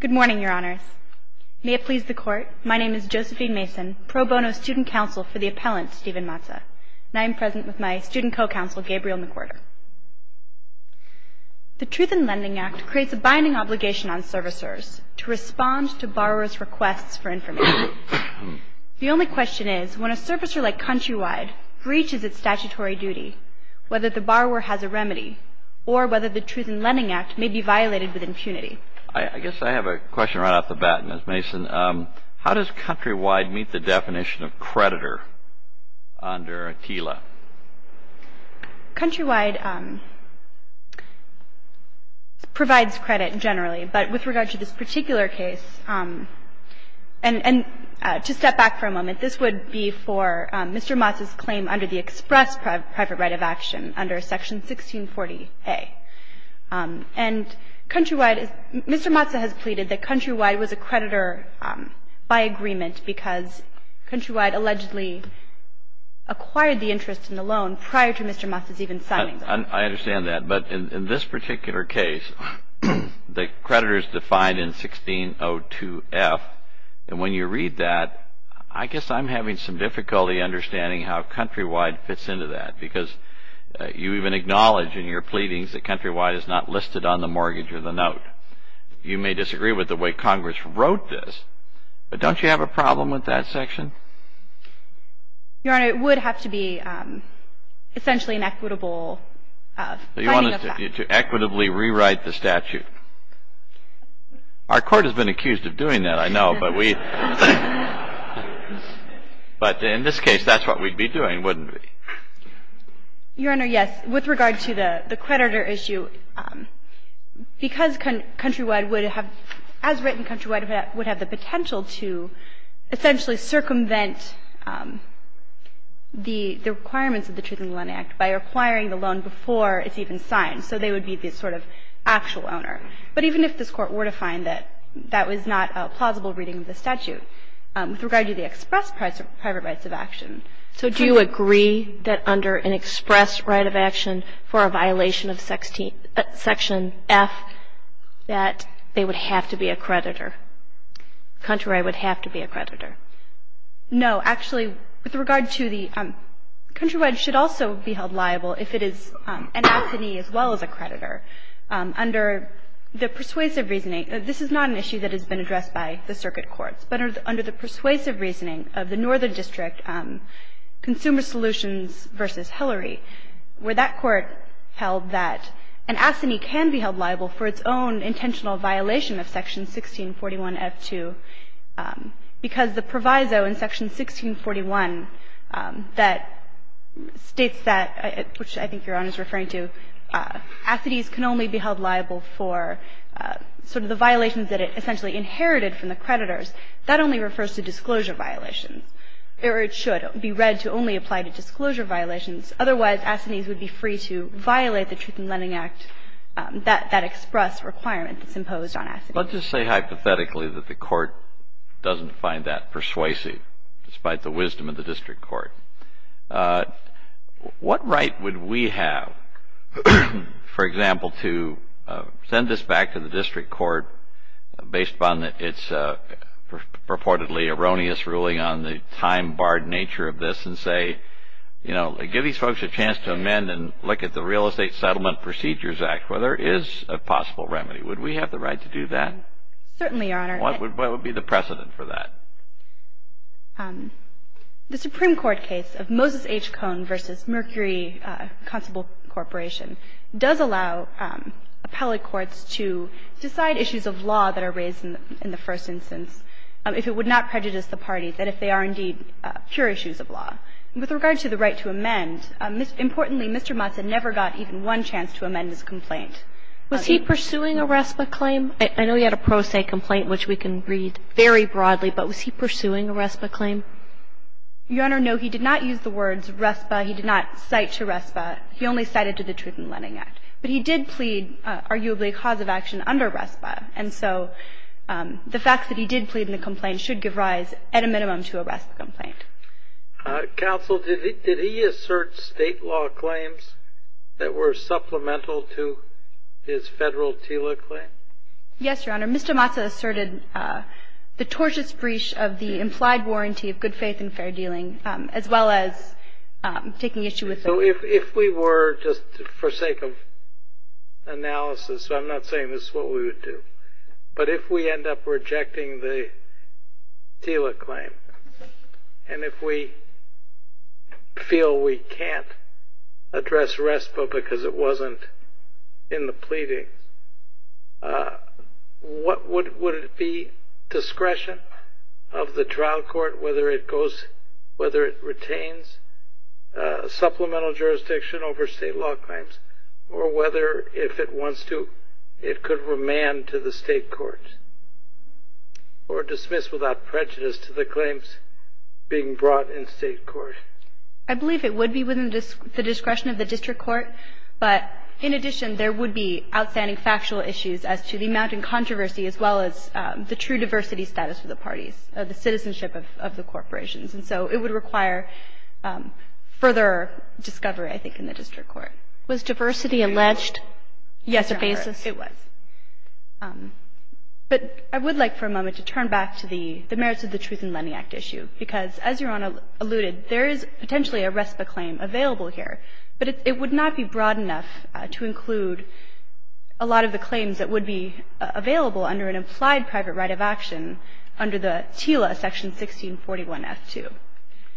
Good morning, Your Honors. May it please the Court, my name is Josephine Mason, pro bono student counsel for the appellant Stephen Matza, and I am present with my student co-counsel Gabriel McWhirter. The Truth in Lending Act creates a binding obligation on servicers to respond to borrower's requests for information. The only question is, when a servicer like Countrywide breaches its statutory duty, whether the borrower has a remedy, or whether the Truth in Lending Act may be violated with impunity. I guess I have a question right off the bat, Ms. Mason. How does Countrywide meet the definition of creditor under AKILA? Countrywide provides credit generally, but with regard to this particular case, and to step back for a moment, this would be for Mr. Matza's claim under the express private right of action under section 1640A. And Countrywide, Mr. Matza has pleaded that Countrywide was a creditor by agreement because Countrywide allegedly acquired the interest in the loan prior to Mr. Matza's even signing the loan. I understand that, but in this particular case, the creditor is defined in 1602F, and when you read that, I guess I'm having some difficulty understanding how Countrywide fits into that, because you even acknowledge in your pleadings that Countrywide is not listed on the mortgage or the note. You may disagree with the way Congress wrote this, but don't you have a problem with that section? Your Honor, it would have to be essentially an equitable signing of that. You want us to equitably rewrite the statute. Our court has been accused of doing that, I know. But in this case, that's what we'd be doing, wouldn't we? Your Honor, yes. With regard to the creditor issue, because Countrywide would have, as written, Countrywide would have the potential to essentially circumvent the requirements of the Truth in the Loan Act by acquiring the loan before it's even signed. So they would be the sort of actual owner. But even if this Court were to find that that was not a plausible reading of the statute. With regard to the express private rights of action. So do you agree that under an express right of action for a violation of Section F, that they would have to be a creditor? Countrywide would have to be a creditor. No. Actually, with regard to the Countrywide should also be held liable if it is an affinee as well as a creditor. Under the persuasive reasoning, this is not an issue that has been addressed by the Circuit Courts. But under the persuasive reasoning of the Northern District Consumer Solutions v. Hillary, where that Court held that an affinee can be held liable for its own intentional violation of Section 1641F2, because the proviso in Section 1641 that states that, which I think Your Honor is referring to, affinees can only be inherited from the creditors, that only refers to disclosure violations. Or it should be read to only apply to disclosure violations. Otherwise, affinees would be free to violate the Truth in Lending Act, that express requirement that's imposed on affinees. Let's just say hypothetically that the Court doesn't find that persuasive, despite the wisdom of the District Court. What right would we have, for example, to send this back to the District Court, based upon its purportedly erroneous ruling on the time-barred nature of this, and say, you know, give these folks a chance to amend and look at the Real Estate Settlement Procedures Act, where there is a possible remedy. Would we have the right to do that? Certainly, Your Honor. What would be the precedent for that? The Supreme Court case of Moses H. Cone v. Mercury Constable Corporation does allow appellate courts to decide issues of law that are raised in the first instance, if it would not prejudice the parties, and if they are indeed pure issues of law. With regard to the right to amend, importantly, Mr. Motts had never got even one chance to amend his complaint. Was he pursuing a RESPA claim? I know he had a pro se complaint, which we can read very broadly, but was he pursuing a RESPA claim? Your Honor, no. He did not use the words RESPA. He did not cite to RESPA. He only cited to the Truth in Lending Act. But he did plead, arguably, a cause of action under RESPA. And so, the fact that he did plead in the complaint should give rise, at a minimum, to a RESPA complaint. Counsel, did he assert state law claims that were supplemental to his federal TILA claim? Yes, Your Honor. Mr. Motts asserted the tortious breach of the implied warranty of good faith and fair dealing, as well as taking issue with it. So, if we were, just for sake of analysis, I'm not saying this is what we would do, but if we end up rejecting the TILA claim, and if we feel we can't address RESPA because it wasn't in the pleading, would it be discretion of the trial court, whether it goes, whether it retains supplemental jurisdiction over state law claims, or whether, if it wants to, it could remand to the state court, or dismiss without prejudice to the claims being brought in state court? I believe it would be within the discretion of the district court. But, in addition, there would be outstanding factual issues as to the amount in controversy, as well as the true diversity status of the parties, the citizenship of the corporations. And so it would require further discovery, I think, in the district court. Was diversity alleged? Yes, Your Honor, it was. But I would like, for a moment, to turn back to the merits of the Truth in Lending Act issue, because, as Your Honor alluded, there is potentially a RESPA claim available here, but it would not be broad enough to include a lot of the claims that would be available under an implied private right of action under the TILA, Section 1641F2.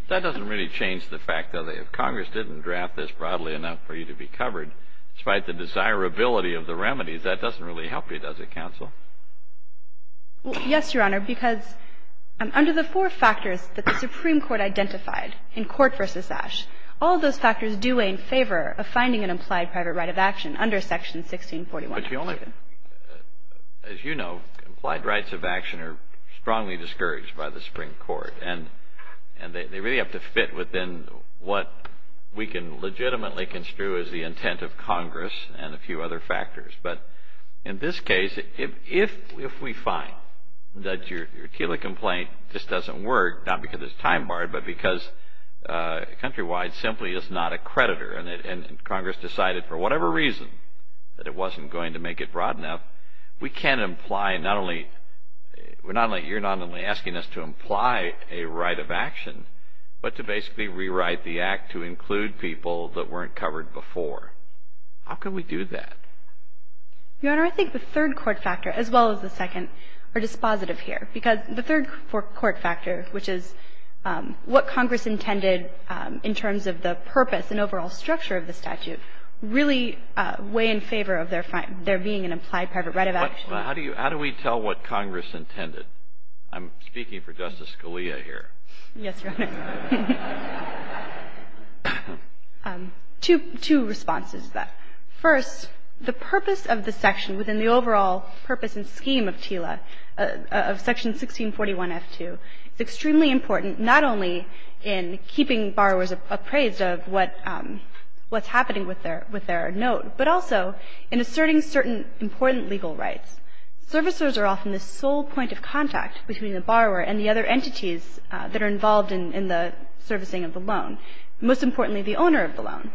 That doesn't really change the fact, though, that if Congress didn't draft this broadly enough for you to be covered, despite the desirability of the remedies, that doesn't really help you, does it, counsel? Yes, Your Honor, because under the four factors that the Supreme Court identified in Court v. Ash, all those factors do weigh in favor of finding an implied private right of action under Section 1641F2. But Your Honor, as you know, implied rights of action are strongly discouraged by the Supreme Court, and they really have to fit within what we can legitimately construe as the intent of Congress and a few other factors. But in this case, if we find that your TILA complaint just doesn't work, not because it's time-barred, but because Countrywide simply is not a creditor, and Congress decided, for whatever reason, that it wasn't going to make it broad enough, we can't imply not only – we're not only – you're not only asking us to imply a right of action, but to basically rewrite the Act to include people that weren't covered before. How can we do that? Your Honor, I think the third court factor, as well as the second, are dispositive here. Because the third court factor, which is what Congress intended in terms of the purpose and overall structure of the statute, really weigh in favor of there being an implied private right of action. But how do you – how do we tell what Congress intended? I'm speaking for Justice Scalia here. Yes, Your Honor. Two responses to that. First, the purpose of the section within the overall purpose and scheme of TILA, of Section 1641F2, is extremely important, not only in keeping borrowers appraised of what's happening with their note, but also in asserting certain important legal rights. Servicers are often the sole point of contact between the borrower and the other entities that are involved in the servicing of the loan, most importantly the owner of the loan.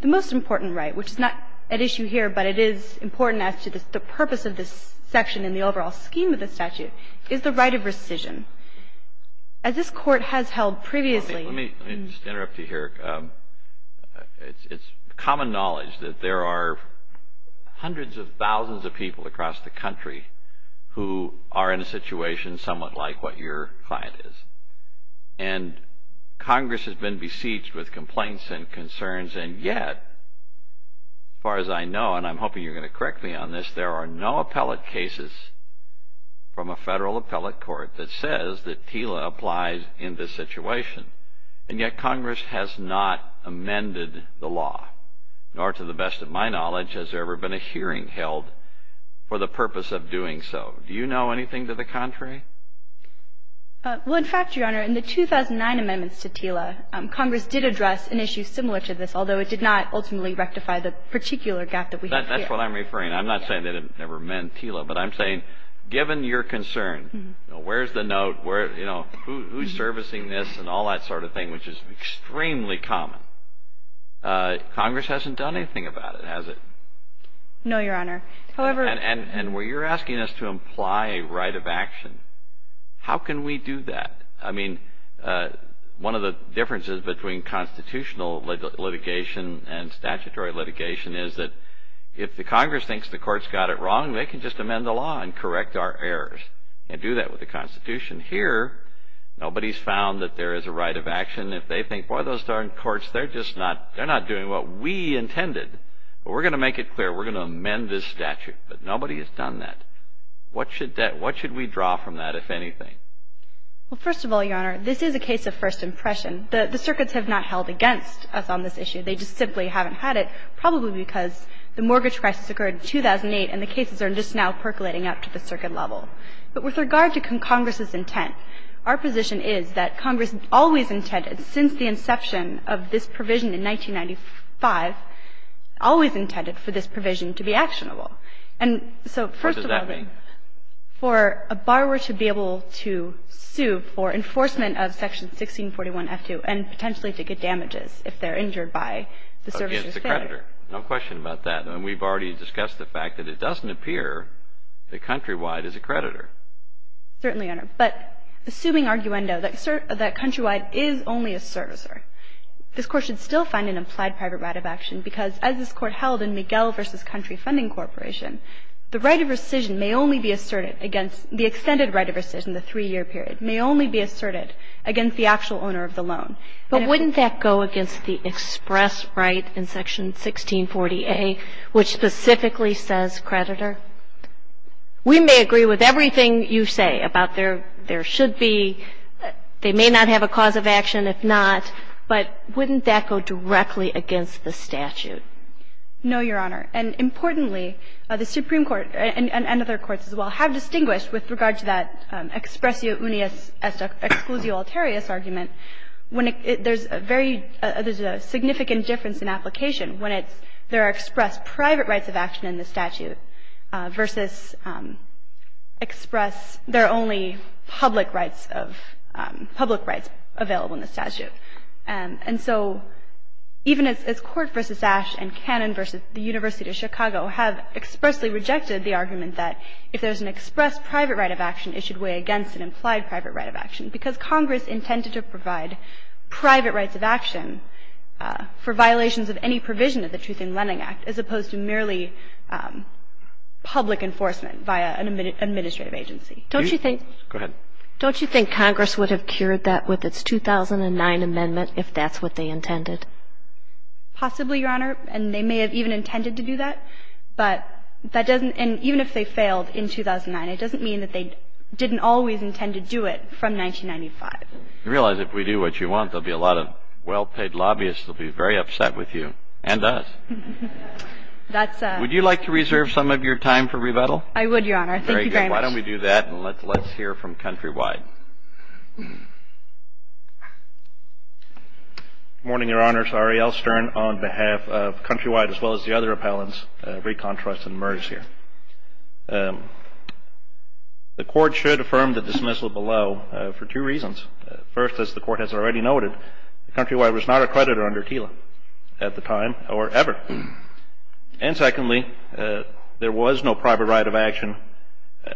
The most important right, which is not at issue here, but it is important as to the purpose of this section in the overall scheme of the statute, is the right of rescission. As this Court has held previously – Let me interrupt you here. It's common knowledge that there are hundreds of thousands of people across the country who are in a situation somewhat like what your client is. And Congress has been besieged with complaints and concerns, and yet, as far as I know, and I'm hoping you're going to correct me on this, there are no appellate cases from a federal appellate court that says that TILA applies in this situation. And yet, Congress has not amended the law, nor to the best of my knowledge has there ever been a hearing held for the purpose of doing so. Do you know anything to the contrary? Well, in fact, Your Honor, in the 2009 amendments to TILA, Congress did address an issue similar to this, although it did not ultimately rectify the particular gap that we have here. That's what I'm referring to. I'm not saying that it never meant TILA, but I'm saying, given your concern – where's the note, who's servicing this and all that sort of thing, which is extremely common – Congress hasn't done anything about it, has it? No, Your Honor. However – And where you're asking us to imply a right of action, how can we do that? I mean, one of the differences between constitutional litigation and statutory litigation is that if the Congress thinks the court's got it wrong, they can just amend the law and correct our errors. They can do that with the Constitution. Here, nobody's found that there is a right of action. If they think, boy, those darn courts, they're just not – they're not doing what we intended. But we're going to make it clear. We're going to amend this statute. But nobody has done that. What should we draw from that, if anything? Well, first of all, Your Honor, this is a case of first impression. The – the circuits have not held against us on this issue. They just simply haven't had it, probably because the mortgage crisis occurred in 2008 and the cases are just now percolating up to the circuit level. But with regard to Congress's intent, our position is that Congress always intended, since the inception of this provision in 1995, always intended for this provision to be actionable. And so, first of all – What does that mean? For a borrower to be able to sue for enforcement of Section 1641F2 and potentially to get damages if they're injured by the servicer's failure. Again, it's a creditor. No question about that. I mean, we've already discussed the fact that it doesn't appear that Countrywide is a creditor. Certainly, Your Honor. But assuming arguendo, that Countrywide is only a servicer, this Court should still find an implied private right of action because, as this Court held in Miguel v. Country Funding Corporation, the right of rescission may only be asserted against – the extended right of rescission, the three-year period, may only be asserted against the actual owner of the loan. But wouldn't that go against the express right in Section 1640A, which specifically says creditor? We may agree with everything you say about there should be – they may not have a cause of action if not, but wouldn't that go directly against the statute? No, Your Honor. And importantly, the Supreme Court, and other courts as well, have distinguished with regard to that expressio unius exclusio alterius argument when there's a very – there's a significant difference in application when it's – there are expressed private rights of action in the statute versus express – there are only public rights of – public rights available in the statute. And so even as Court v. Ash and Cannon v. the University of Chicago have expressly rejected the argument that if there's an express private right of action, it should weigh against an implied private right of action because Congress intended to provide private rights of action for violations of any provision of the Truth in Lending Act as opposed to merely public enforcement via an administrative agency. Don't you think – Go ahead. Do you think Congress would do that with its 2009 amendment if that's what they intended? Possibly, Your Honor. And they may have even intended to do that. But that doesn't – and even if they failed in 2009, it doesn't mean that they didn't always intend to do it from 1995. You realize if we do what you want, there'll be a lot of well-paid lobbyists that will be very upset with you, and us. That's a – Would you like to reserve some of your time for rebuttal? I would, Your Honor. Thank you very much. Very good. Why don't we do that and let's hear from Countrywide. Good morning, Your Honors. Ariel Stern on behalf of Countrywide as well as the other appellants, Recon Trust, and MERS here. The Court should affirm the dismissal below for two reasons. First, as the Court has already noted, Countrywide was not a creditor under TILA at the time or ever. And secondly, there was no private right of action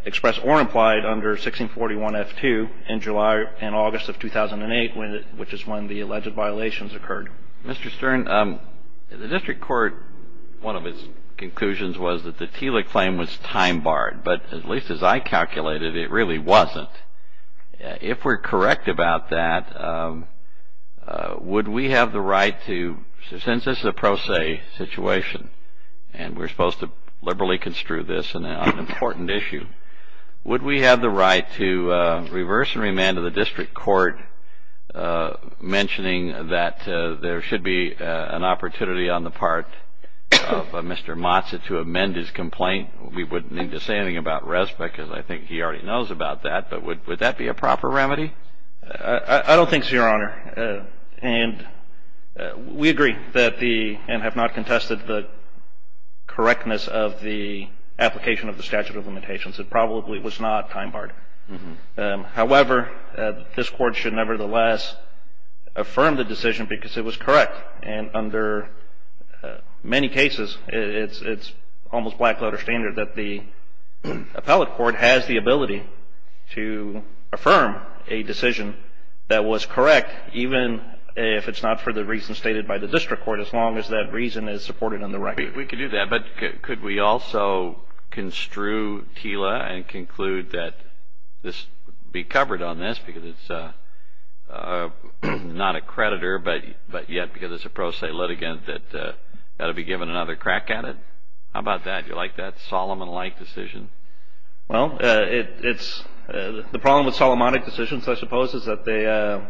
expressed or implied under 1641-F2 in July and August of 2008, which is when the alleged violations occurred. Mr. Stern, the District Court, one of its conclusions was that the TILA claim was time barred. But at least as I calculated, it really wasn't. If we're correct about that, would we have the right to – since this is a pro se situation and we're supposed to liberally construe this on an important issue, would we have the right to reverse and remand to the District Court mentioning that there should be an opportunity on the part of Mr. Mazza to amend his complaint? We wouldn't need to say anything about RESPA because I think he already knows about that. But would that be a proper remedy? I don't think so, Your Honor. And we agree that the – and have not contested the correctness of the application of the statute of limitations. It probably was not time barred. However, this Court should nevertheless affirm the decision because it was correct. And under many cases, it's almost black letter standard that the appellate court has the ability to affirm a decision that was correct even if it's not for the reason stated by the District Court as long as that reason is supported on the record. We could do that. But could we also construe TILA and conclude that this – be covered on this because it's not a creditor but yet because it's a pro se litigant that that would be given another crack at it? How about that? Do you like that Solomon-like decision? Well, it's – the problem with Solomonic decisions, I suppose, is that they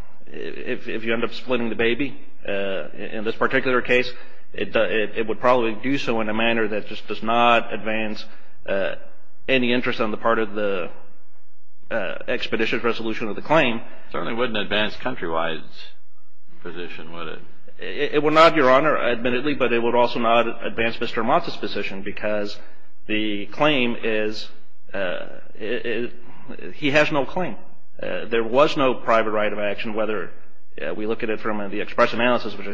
– if you end up splitting the baby, in this particular case, it would probably do so in a manner that just does not advance any interest on the part of the expeditious resolution of the claim. It certainly wouldn't advance Countrywide's position, would it? It would not, Your Honor, admittedly, but it would also not advance Mr. Amat's position because the claim is – he has no claim. There was no private right of action whether we look at it from the express analysis, which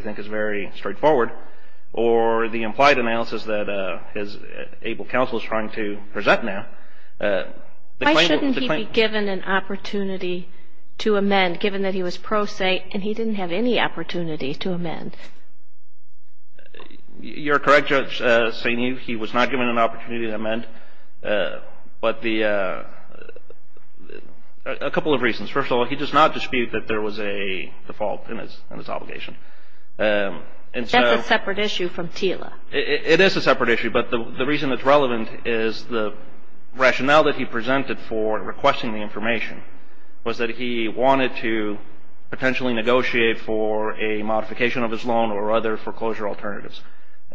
his able counsel is trying to present now. Why shouldn't he be given an opportunity to amend, given that he was pro se and he didn't have any opportunity to amend? You're correct, Judge Saini. He was not given an opportunity to amend, but the – a couple of reasons. First of all, he does not dispute that there was a default in his obligation. That's a separate issue from TILA. It is a separate issue, but the reason it's relevant is the rationale that he presented for requesting the information was that he wanted to potentially negotiate for a modification of his loan or other foreclosure alternatives.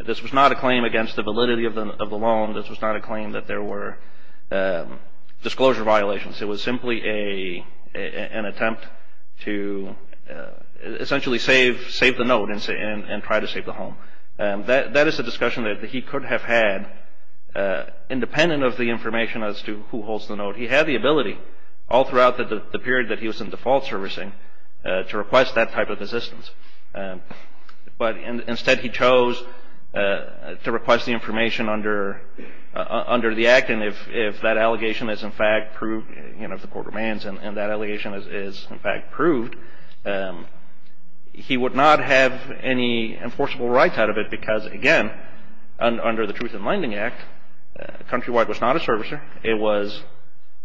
This was not a claim against the validity of the loan. This was not a claim that there were disclosure violations. It was simply an attempt to essentially save the note and try to save the home. That is a discussion that he could have had independent of the information as to who holds the note. He had the ability all throughout the period that he was in default servicing to request that type of assistance, but instead he chose to request the information under the Act, and if that allegation is in fact proved, you know, if the court demands and that allegation is in fact proved, he would not have any enforceable rights out of it because, again, under the Truth in Lending Act, Countrywide was not a servicer. It was,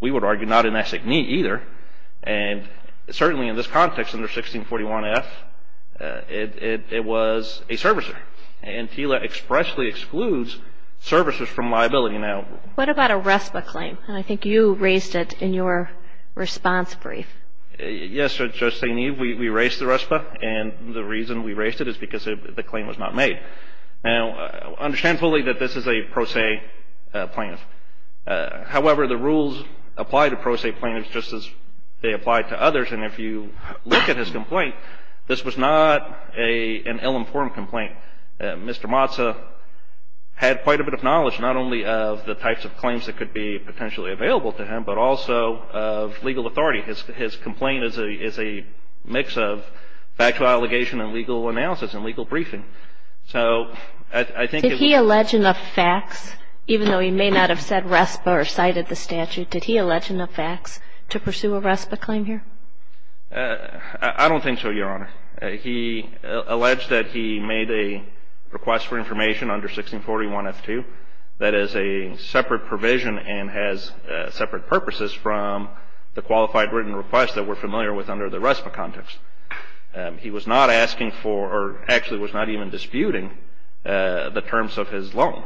we would argue, not an SACME either, and certainly in this context under 1641F, it was a servicer, and TILA expressly excludes servicers from liability. What about a RESPA claim? And I think you raised it in your response brief. Yes, Judge St. Eve. We raised the RESPA, and the reason we raised it is because the claim was not made. Now, understand fully that this is a pro se plaintiff. However, the rules apply to pro se plaintiffs just as they apply to others, and if you look at his complaint, this was not an ill-informed complaint. Mr. Motza had quite a bit of knowledge, not only of the types of claims that could be potentially available to him, but also of legal authority. His complaint is a mix of factual allegation and legal analysis and legal briefing. So I think it was... Did he allege enough facts, even though he may not have said RESPA or cited the statute, did he allege enough facts to pursue a RESPA claim here? I don't think so, Your Honor. He alleged that he made a request for information under 1641 F2 that is a separate provision and has separate purposes from the qualified written request that we're familiar with under the RESPA context. He was not asking for, or actually was not even disputing, the terms of his loan.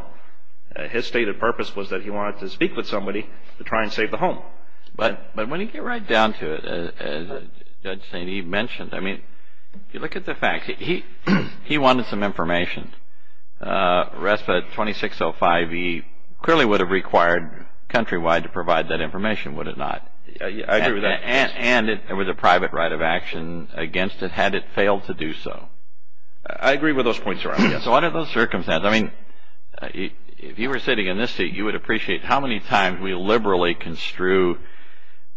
His stated purpose was that he wanted to speak with somebody to try and save the home. But when you get right down to it, as Judge St. Eve mentioned, I mean, if you look at the facts, he wanted some information. RESPA 2605E clearly would have required Countrywide to provide that information, would it not? I agree with that. And it was a private right of action against it had it failed to do so. I agree with those points, Your Honor. So under those circumstances, I mean, if you were sitting in this seat, you would appreciate how many times we liberally construe,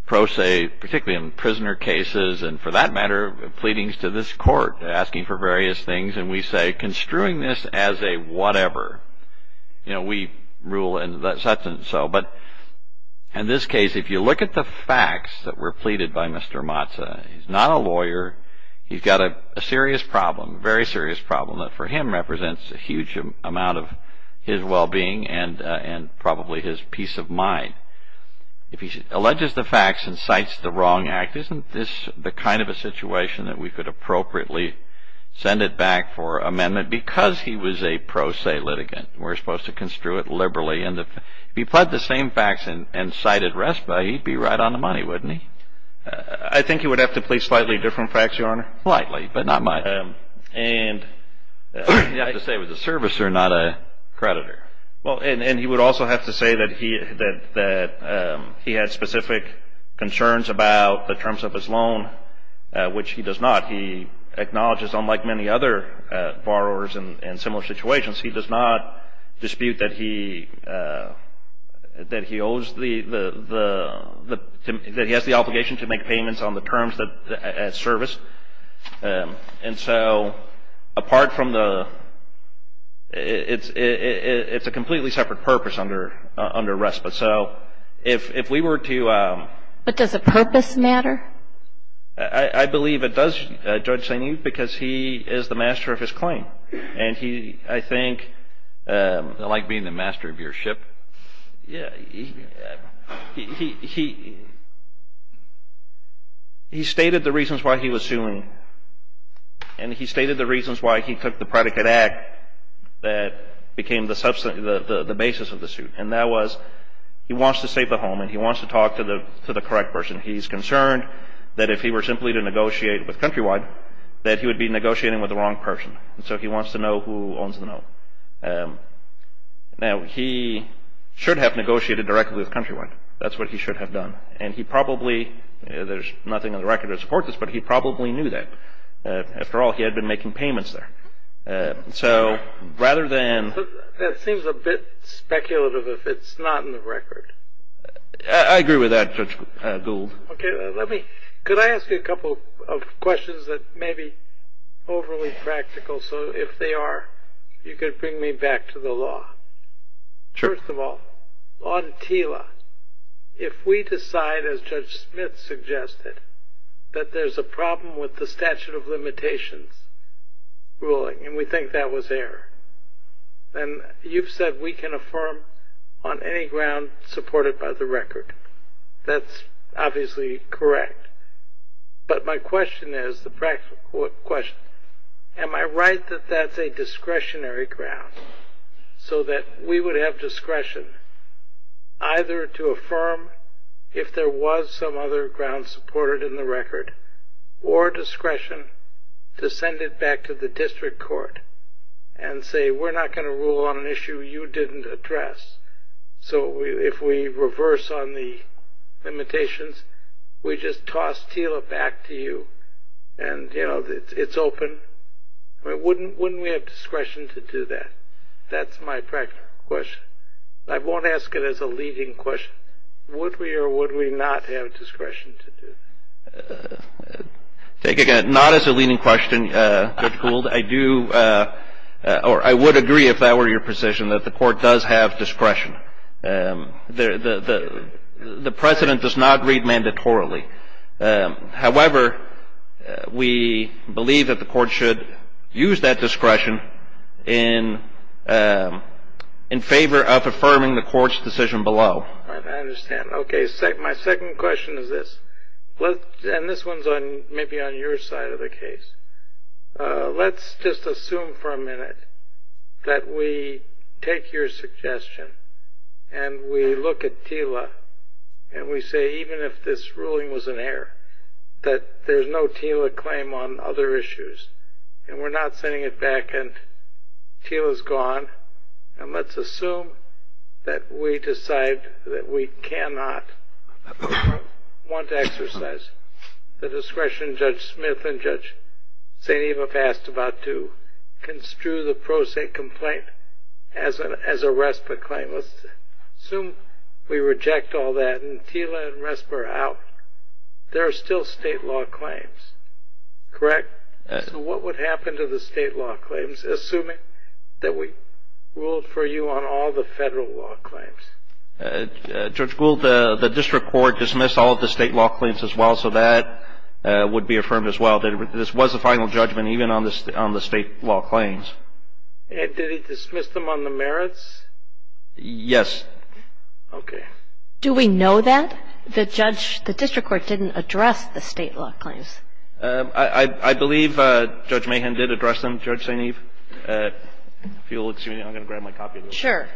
particularly in prisoner cases and for that matter, pleadings to this Court asking for various things, and we say construing this as a whatever. We rule in such and so. But in this case, if you look at the facts that were pleaded by Mr. Mazza, he's not a lawyer. He's got a serious problem, a very serious problem that for him represents a huge amount of his well-being and probably his peace of mind. If he alleges the facts and cites the wrong act, isn't this the kind of a situation that we could appropriately send it back for amendment because he was a pro se litigant? We're supposed to construe it liberally. If he pled the same facts and cited RESPA, he'd be right on the money, wouldn't he? I think he would have to plead slightly different facts, Your Honor. Slightly, but not much. He'd have to say it was a servicer, not a creditor. He would also have to say that he had specific concerns about the terms of his loan, which he does not. He acknowledges, unlike many other borrowers in similar situations, he does not dispute that he has the obligation to make payments on the terms of that service. Apart from the, it's a completely separate purpose under RESPA. If we were to... But does a purpose matter? I believe it does, Judge Saini, because he is the master of his claim. I think... I like being the master of your ship. Yeah, he stated the reasons why he was suing, and he stated the reasons why he took the predicate act that became the basis of the suit, and that was he wants to save the home, and he wants to talk to the correct person. He's concerned that if he were simply to negotiate with Countrywide, that he would be negotiating with the wrong person, and so he wants to know who owns the note. Now, he should have negotiated directly with Countrywide. That's what he should have done, and he probably, there's nothing on the record to support this, but he probably knew that. After all, he had been making payments there. So, rather than... That seems a bit speculative if it's not in the record. I agree with that, Judge Gould. Okay, let me... Could I ask you a couple of questions that may be overly practical, so if they are, you could bring me back to the law. Sure. First of all, on TILA, if we decide, as Judge Smith suggested, that there's a problem with the statute of limitations ruling, and we think that was error, then you've said we can affirm on any ground supported by the record. That's obviously correct, but my question is, the practical question, am I right that that's a discretionary ground, so that we would have discretion either to affirm if there was some other ground supported in the record, or discretion to send it back to the district court and say, we're not going to rule on an issue you didn't address. So, if we reverse on the limitations, we just toss TILA back to you, and it's open, wouldn't we have discretion to do that? That's my practical question. I won't ask it as a leading question. Would we or would we not have discretion to do that? Not as a leading question, Judge Gould. I would agree, if that were your position, that the court does have discretion. The precedent does not read mandatorily. However, we believe that the court should use that discretion in favor of affirming the court's decision below. I understand. Okay, my second question is this, and this one's maybe on your side of the case. Let's just assume for a minute that we take your suggestion and we look at TILA and we say, even if this ruling was an error, that there's no TILA claim on other issues and we're not sending it back and TILA's gone, and let's assume that we decide that we cannot want to exercise the discretion Judge Smith and Judge St. Evop asked about to construe the pro se complaint as a RESPA claim. Let's assume we reject all that and TILA and RESPA are out. There are still state law claims, correct? So what would happen to the state law claims, assuming that we ruled for you on all the federal law claims? Judge Gould, the district court dismissed all of the state law claims as well, so that would be affirmed as well. This was the final judgment even on the state law claims. Did he dismiss them on the merits? Yes. Okay. Do we know that? The district court didn't address the state law claims. I believe Judge Mahan did address them, Judge St. Eve. If you'll excuse me, I'm going to grab my copy of this. Sure.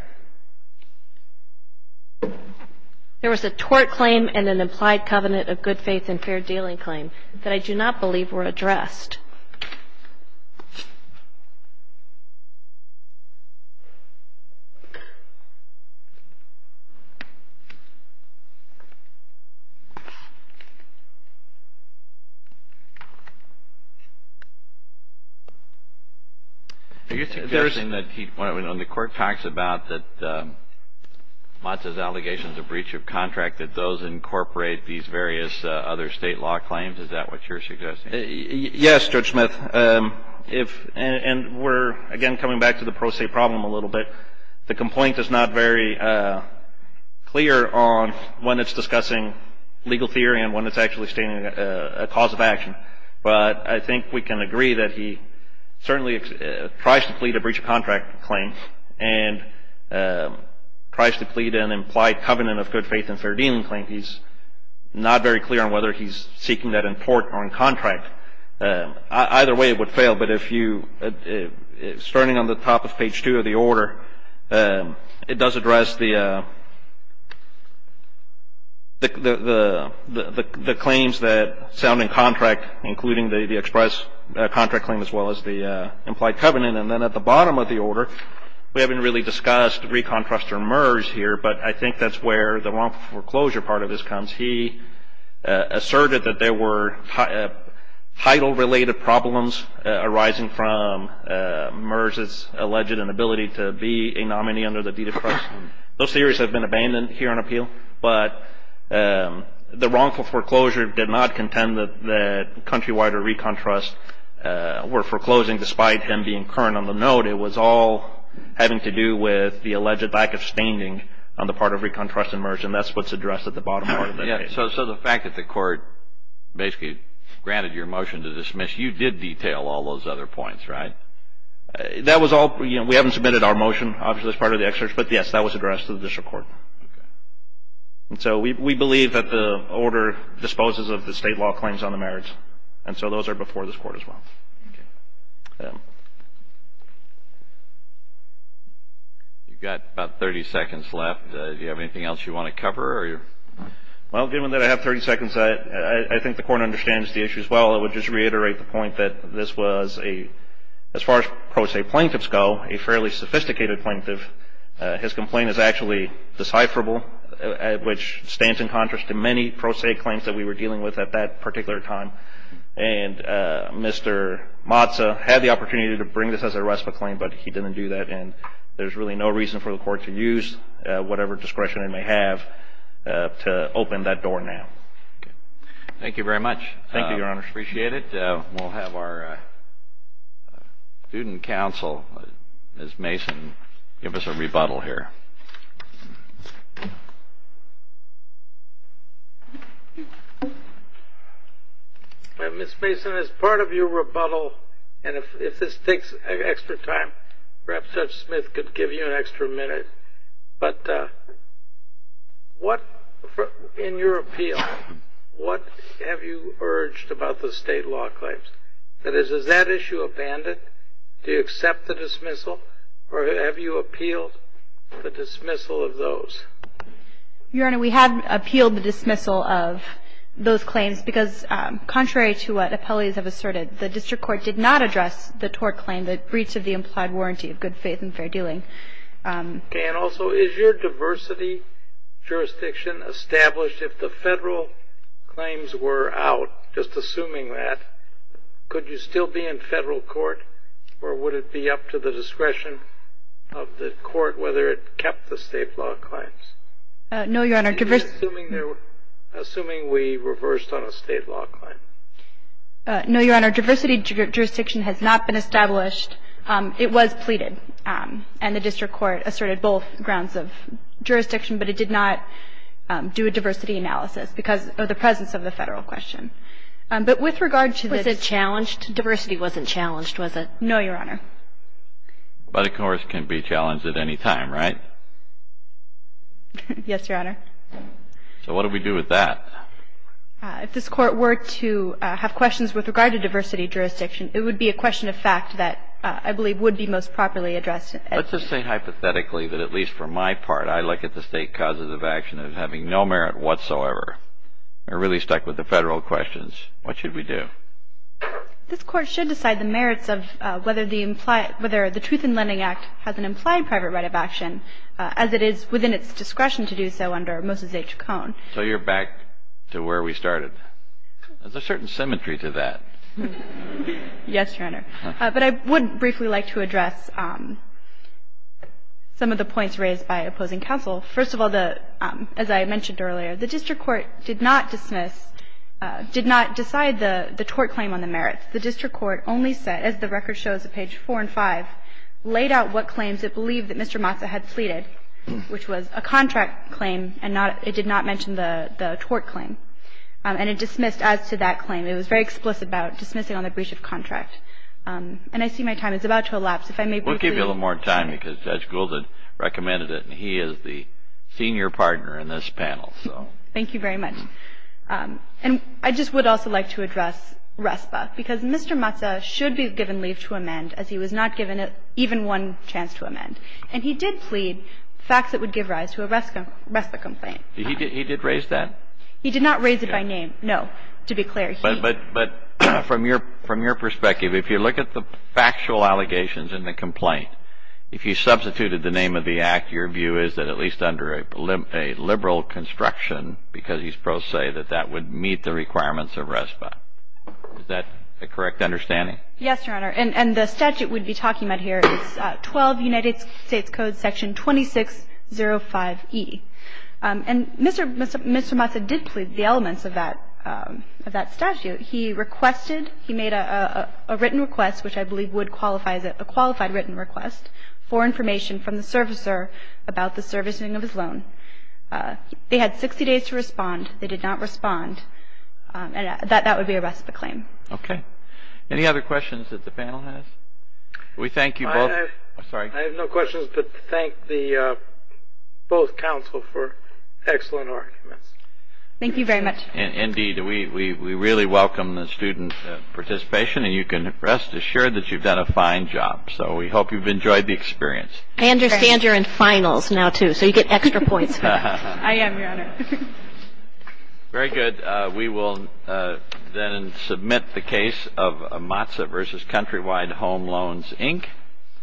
There was a tort claim and an implied covenant of good faith and fair dealing claim that I do not believe were addressed. The court talks about that Mazda's allegations of breach of contract that those incorporate these various other state law claims. Is that what you're suggesting? Yes, Judge Smith. And we're again coming back to the pro se problem a little bit. The complaint is not very clear on when it's discussing legal theory and when it's actually stating a cause of action. But I think we can agree that he certainly tries to plead a breach of contract claim and tries to plead an implied covenant of good faith and fair dealing claim. He's not very clear on whether he's seeking that in port or in contract. Either way it would fail. But if you, starting on the top of page 2 of the order, it does address the claims that sound in contract, including the express contract claim as well as the implied covenant. And then at the bottom of the order, we haven't really discussed recontrast or merge here, but I think that's where the wrongful foreclosure part of this comes. He asserted that there were title-related problems arising from merge's alleged inability to be a nominee under the deed of trust. Those theories have been abandoned here on appeal. But the wrongful foreclosure did not contend that Countrywide or Recon Trust were foreclosing despite him being current on the note. It was all having to do with the alleged lack of standing on the part of Recon Trust and merge, and that's what's addressed at the bottom part of that case. So the fact that the court basically granted your motion to dismiss, you did detail all those other points, right? That was all, you know, we haven't submitted our motion, obviously as part of the excerpt, but yes, that was addressed to the district court. Okay. And so we believe that the order disposes of the state law claims on the merits, and so those are before this court as well. Okay. You've got about 30 seconds left. Do you have anything else you want to cover? Well, given that I have 30 seconds, I think the court understands the issue as well. I would just reiterate the point that this was a, as far as pro se plaintiffs go, a fairly sophisticated plaintiff. His complaint is actually decipherable, which stands in contrast to many pro se claims that we were dealing with at that particular time. And Mr. Matza had the opportunity to bring this as a rest of a claim, but he didn't do that, and there's really no reason for the court to use whatever discretion they may have to open that door now. Okay. Thank you very much. Thank you, Your Honor. Appreciate it. We'll have our student counsel, Ms. Mason, give us a rebuttal here. Ms. Mason, as part of your rebuttal, and if this takes extra time, perhaps Judge Smith could give you an extra minute, but what, in your appeal, what have you urged about the state law claims? That is, is that issue abandoned? Do you accept the dismissal? Or have you appealed the dismissal of those? Your Honor, we have appealed the dismissal of those claims because contrary to what appellees have asserted, the district court did not address the TOR claim, the breach of the implied warranty of good faith and fair dealing. Okay. And also, is your diversity jurisdiction established? If the federal claims were out, just assuming that, could you still be in federal court? Or would it be up to the discretion of the court whether it kept the state law claims? No, Your Honor. Assuming we reversed on a state law claim. No, Your Honor. Diversity jurisdiction has not been established. It was pleaded, and the district court asserted both grounds of jurisdiction, but it did not do a diversity analysis because of the presence of the federal question. But with regard to the... Was it challenged? Diversity wasn't challenged, was it? But a course can be challenged at any time, right? Yes, Your Honor. So what do we do with that? If this court were to have questions with regard to diversity jurisdiction, it would be a question of fact that I believe would be most properly addressed. Let's just say hypothetically that at least for my part, I look at the state causes of action as having no merit whatsoever. We're really stuck with the federal questions. What should we do? This court should decide the merits of whether the Truth in Lending Act has an implied private right of action as it is within its discretion to do so under Moses H. Cone. So you're back to where we started. There's a certain symmetry to that. Yes, Your Honor. But I would briefly like to address some of the points raised by opposing counsel. First of all, as I mentioned earlier, the district court did not dismiss, did not decide the tort claim on the merits. The district court only said, as the record shows at page 4 and 5, laid out what claims it believed that Mr. Mazza had pleaded, which was a contract claim and it did not mention the tort claim. And it dismissed as to that claim. It was very explicit about dismissing on the breach of contract. And I see my time is about to elapse. We'll give you a little more time because Judge Gould had recommended it and he is the senior partner in this panel. Thank you very much. And I just would also like to address RESPA because Mr. Mazza should be given leave to amend as he was not given even one chance to amend. And he did plead facts that would give rise to a RESPA complaint. He did raise that? He did not raise it by name. No, to be clear. But from your perspective, if you look at the factual allegations in the complaint, if you substituted the name of the act, your view is that at least under a liberal construction because he's pro se that that would meet the requirements of RESPA. Is that the correct understanding? Yes, Your Honor. And the statute we'd be talking about here is 12 United States Code Section 2605E. And Mr. Mazza did plead the elements of that statute. He requested, he made a written request which I believe would qualify as a qualified written request for information from the servicer about the servicing of his loan. They had 60 days to respond. They did not respond. That would be a RESPA claim. Okay. Any other questions that the panel has? We thank you both. I have no questions but thank both counsel for excellent arguments. Thank you very much. Indeed. We really welcome the student participation and you can rest assured that you've done a fine job. So we hope you've enjoyed the experience. I understand you're in finals now too so you get extra points. I am, Your Honor. Very good. We will then submit the case of Mazza v. Countrywide Home Loans, Inc.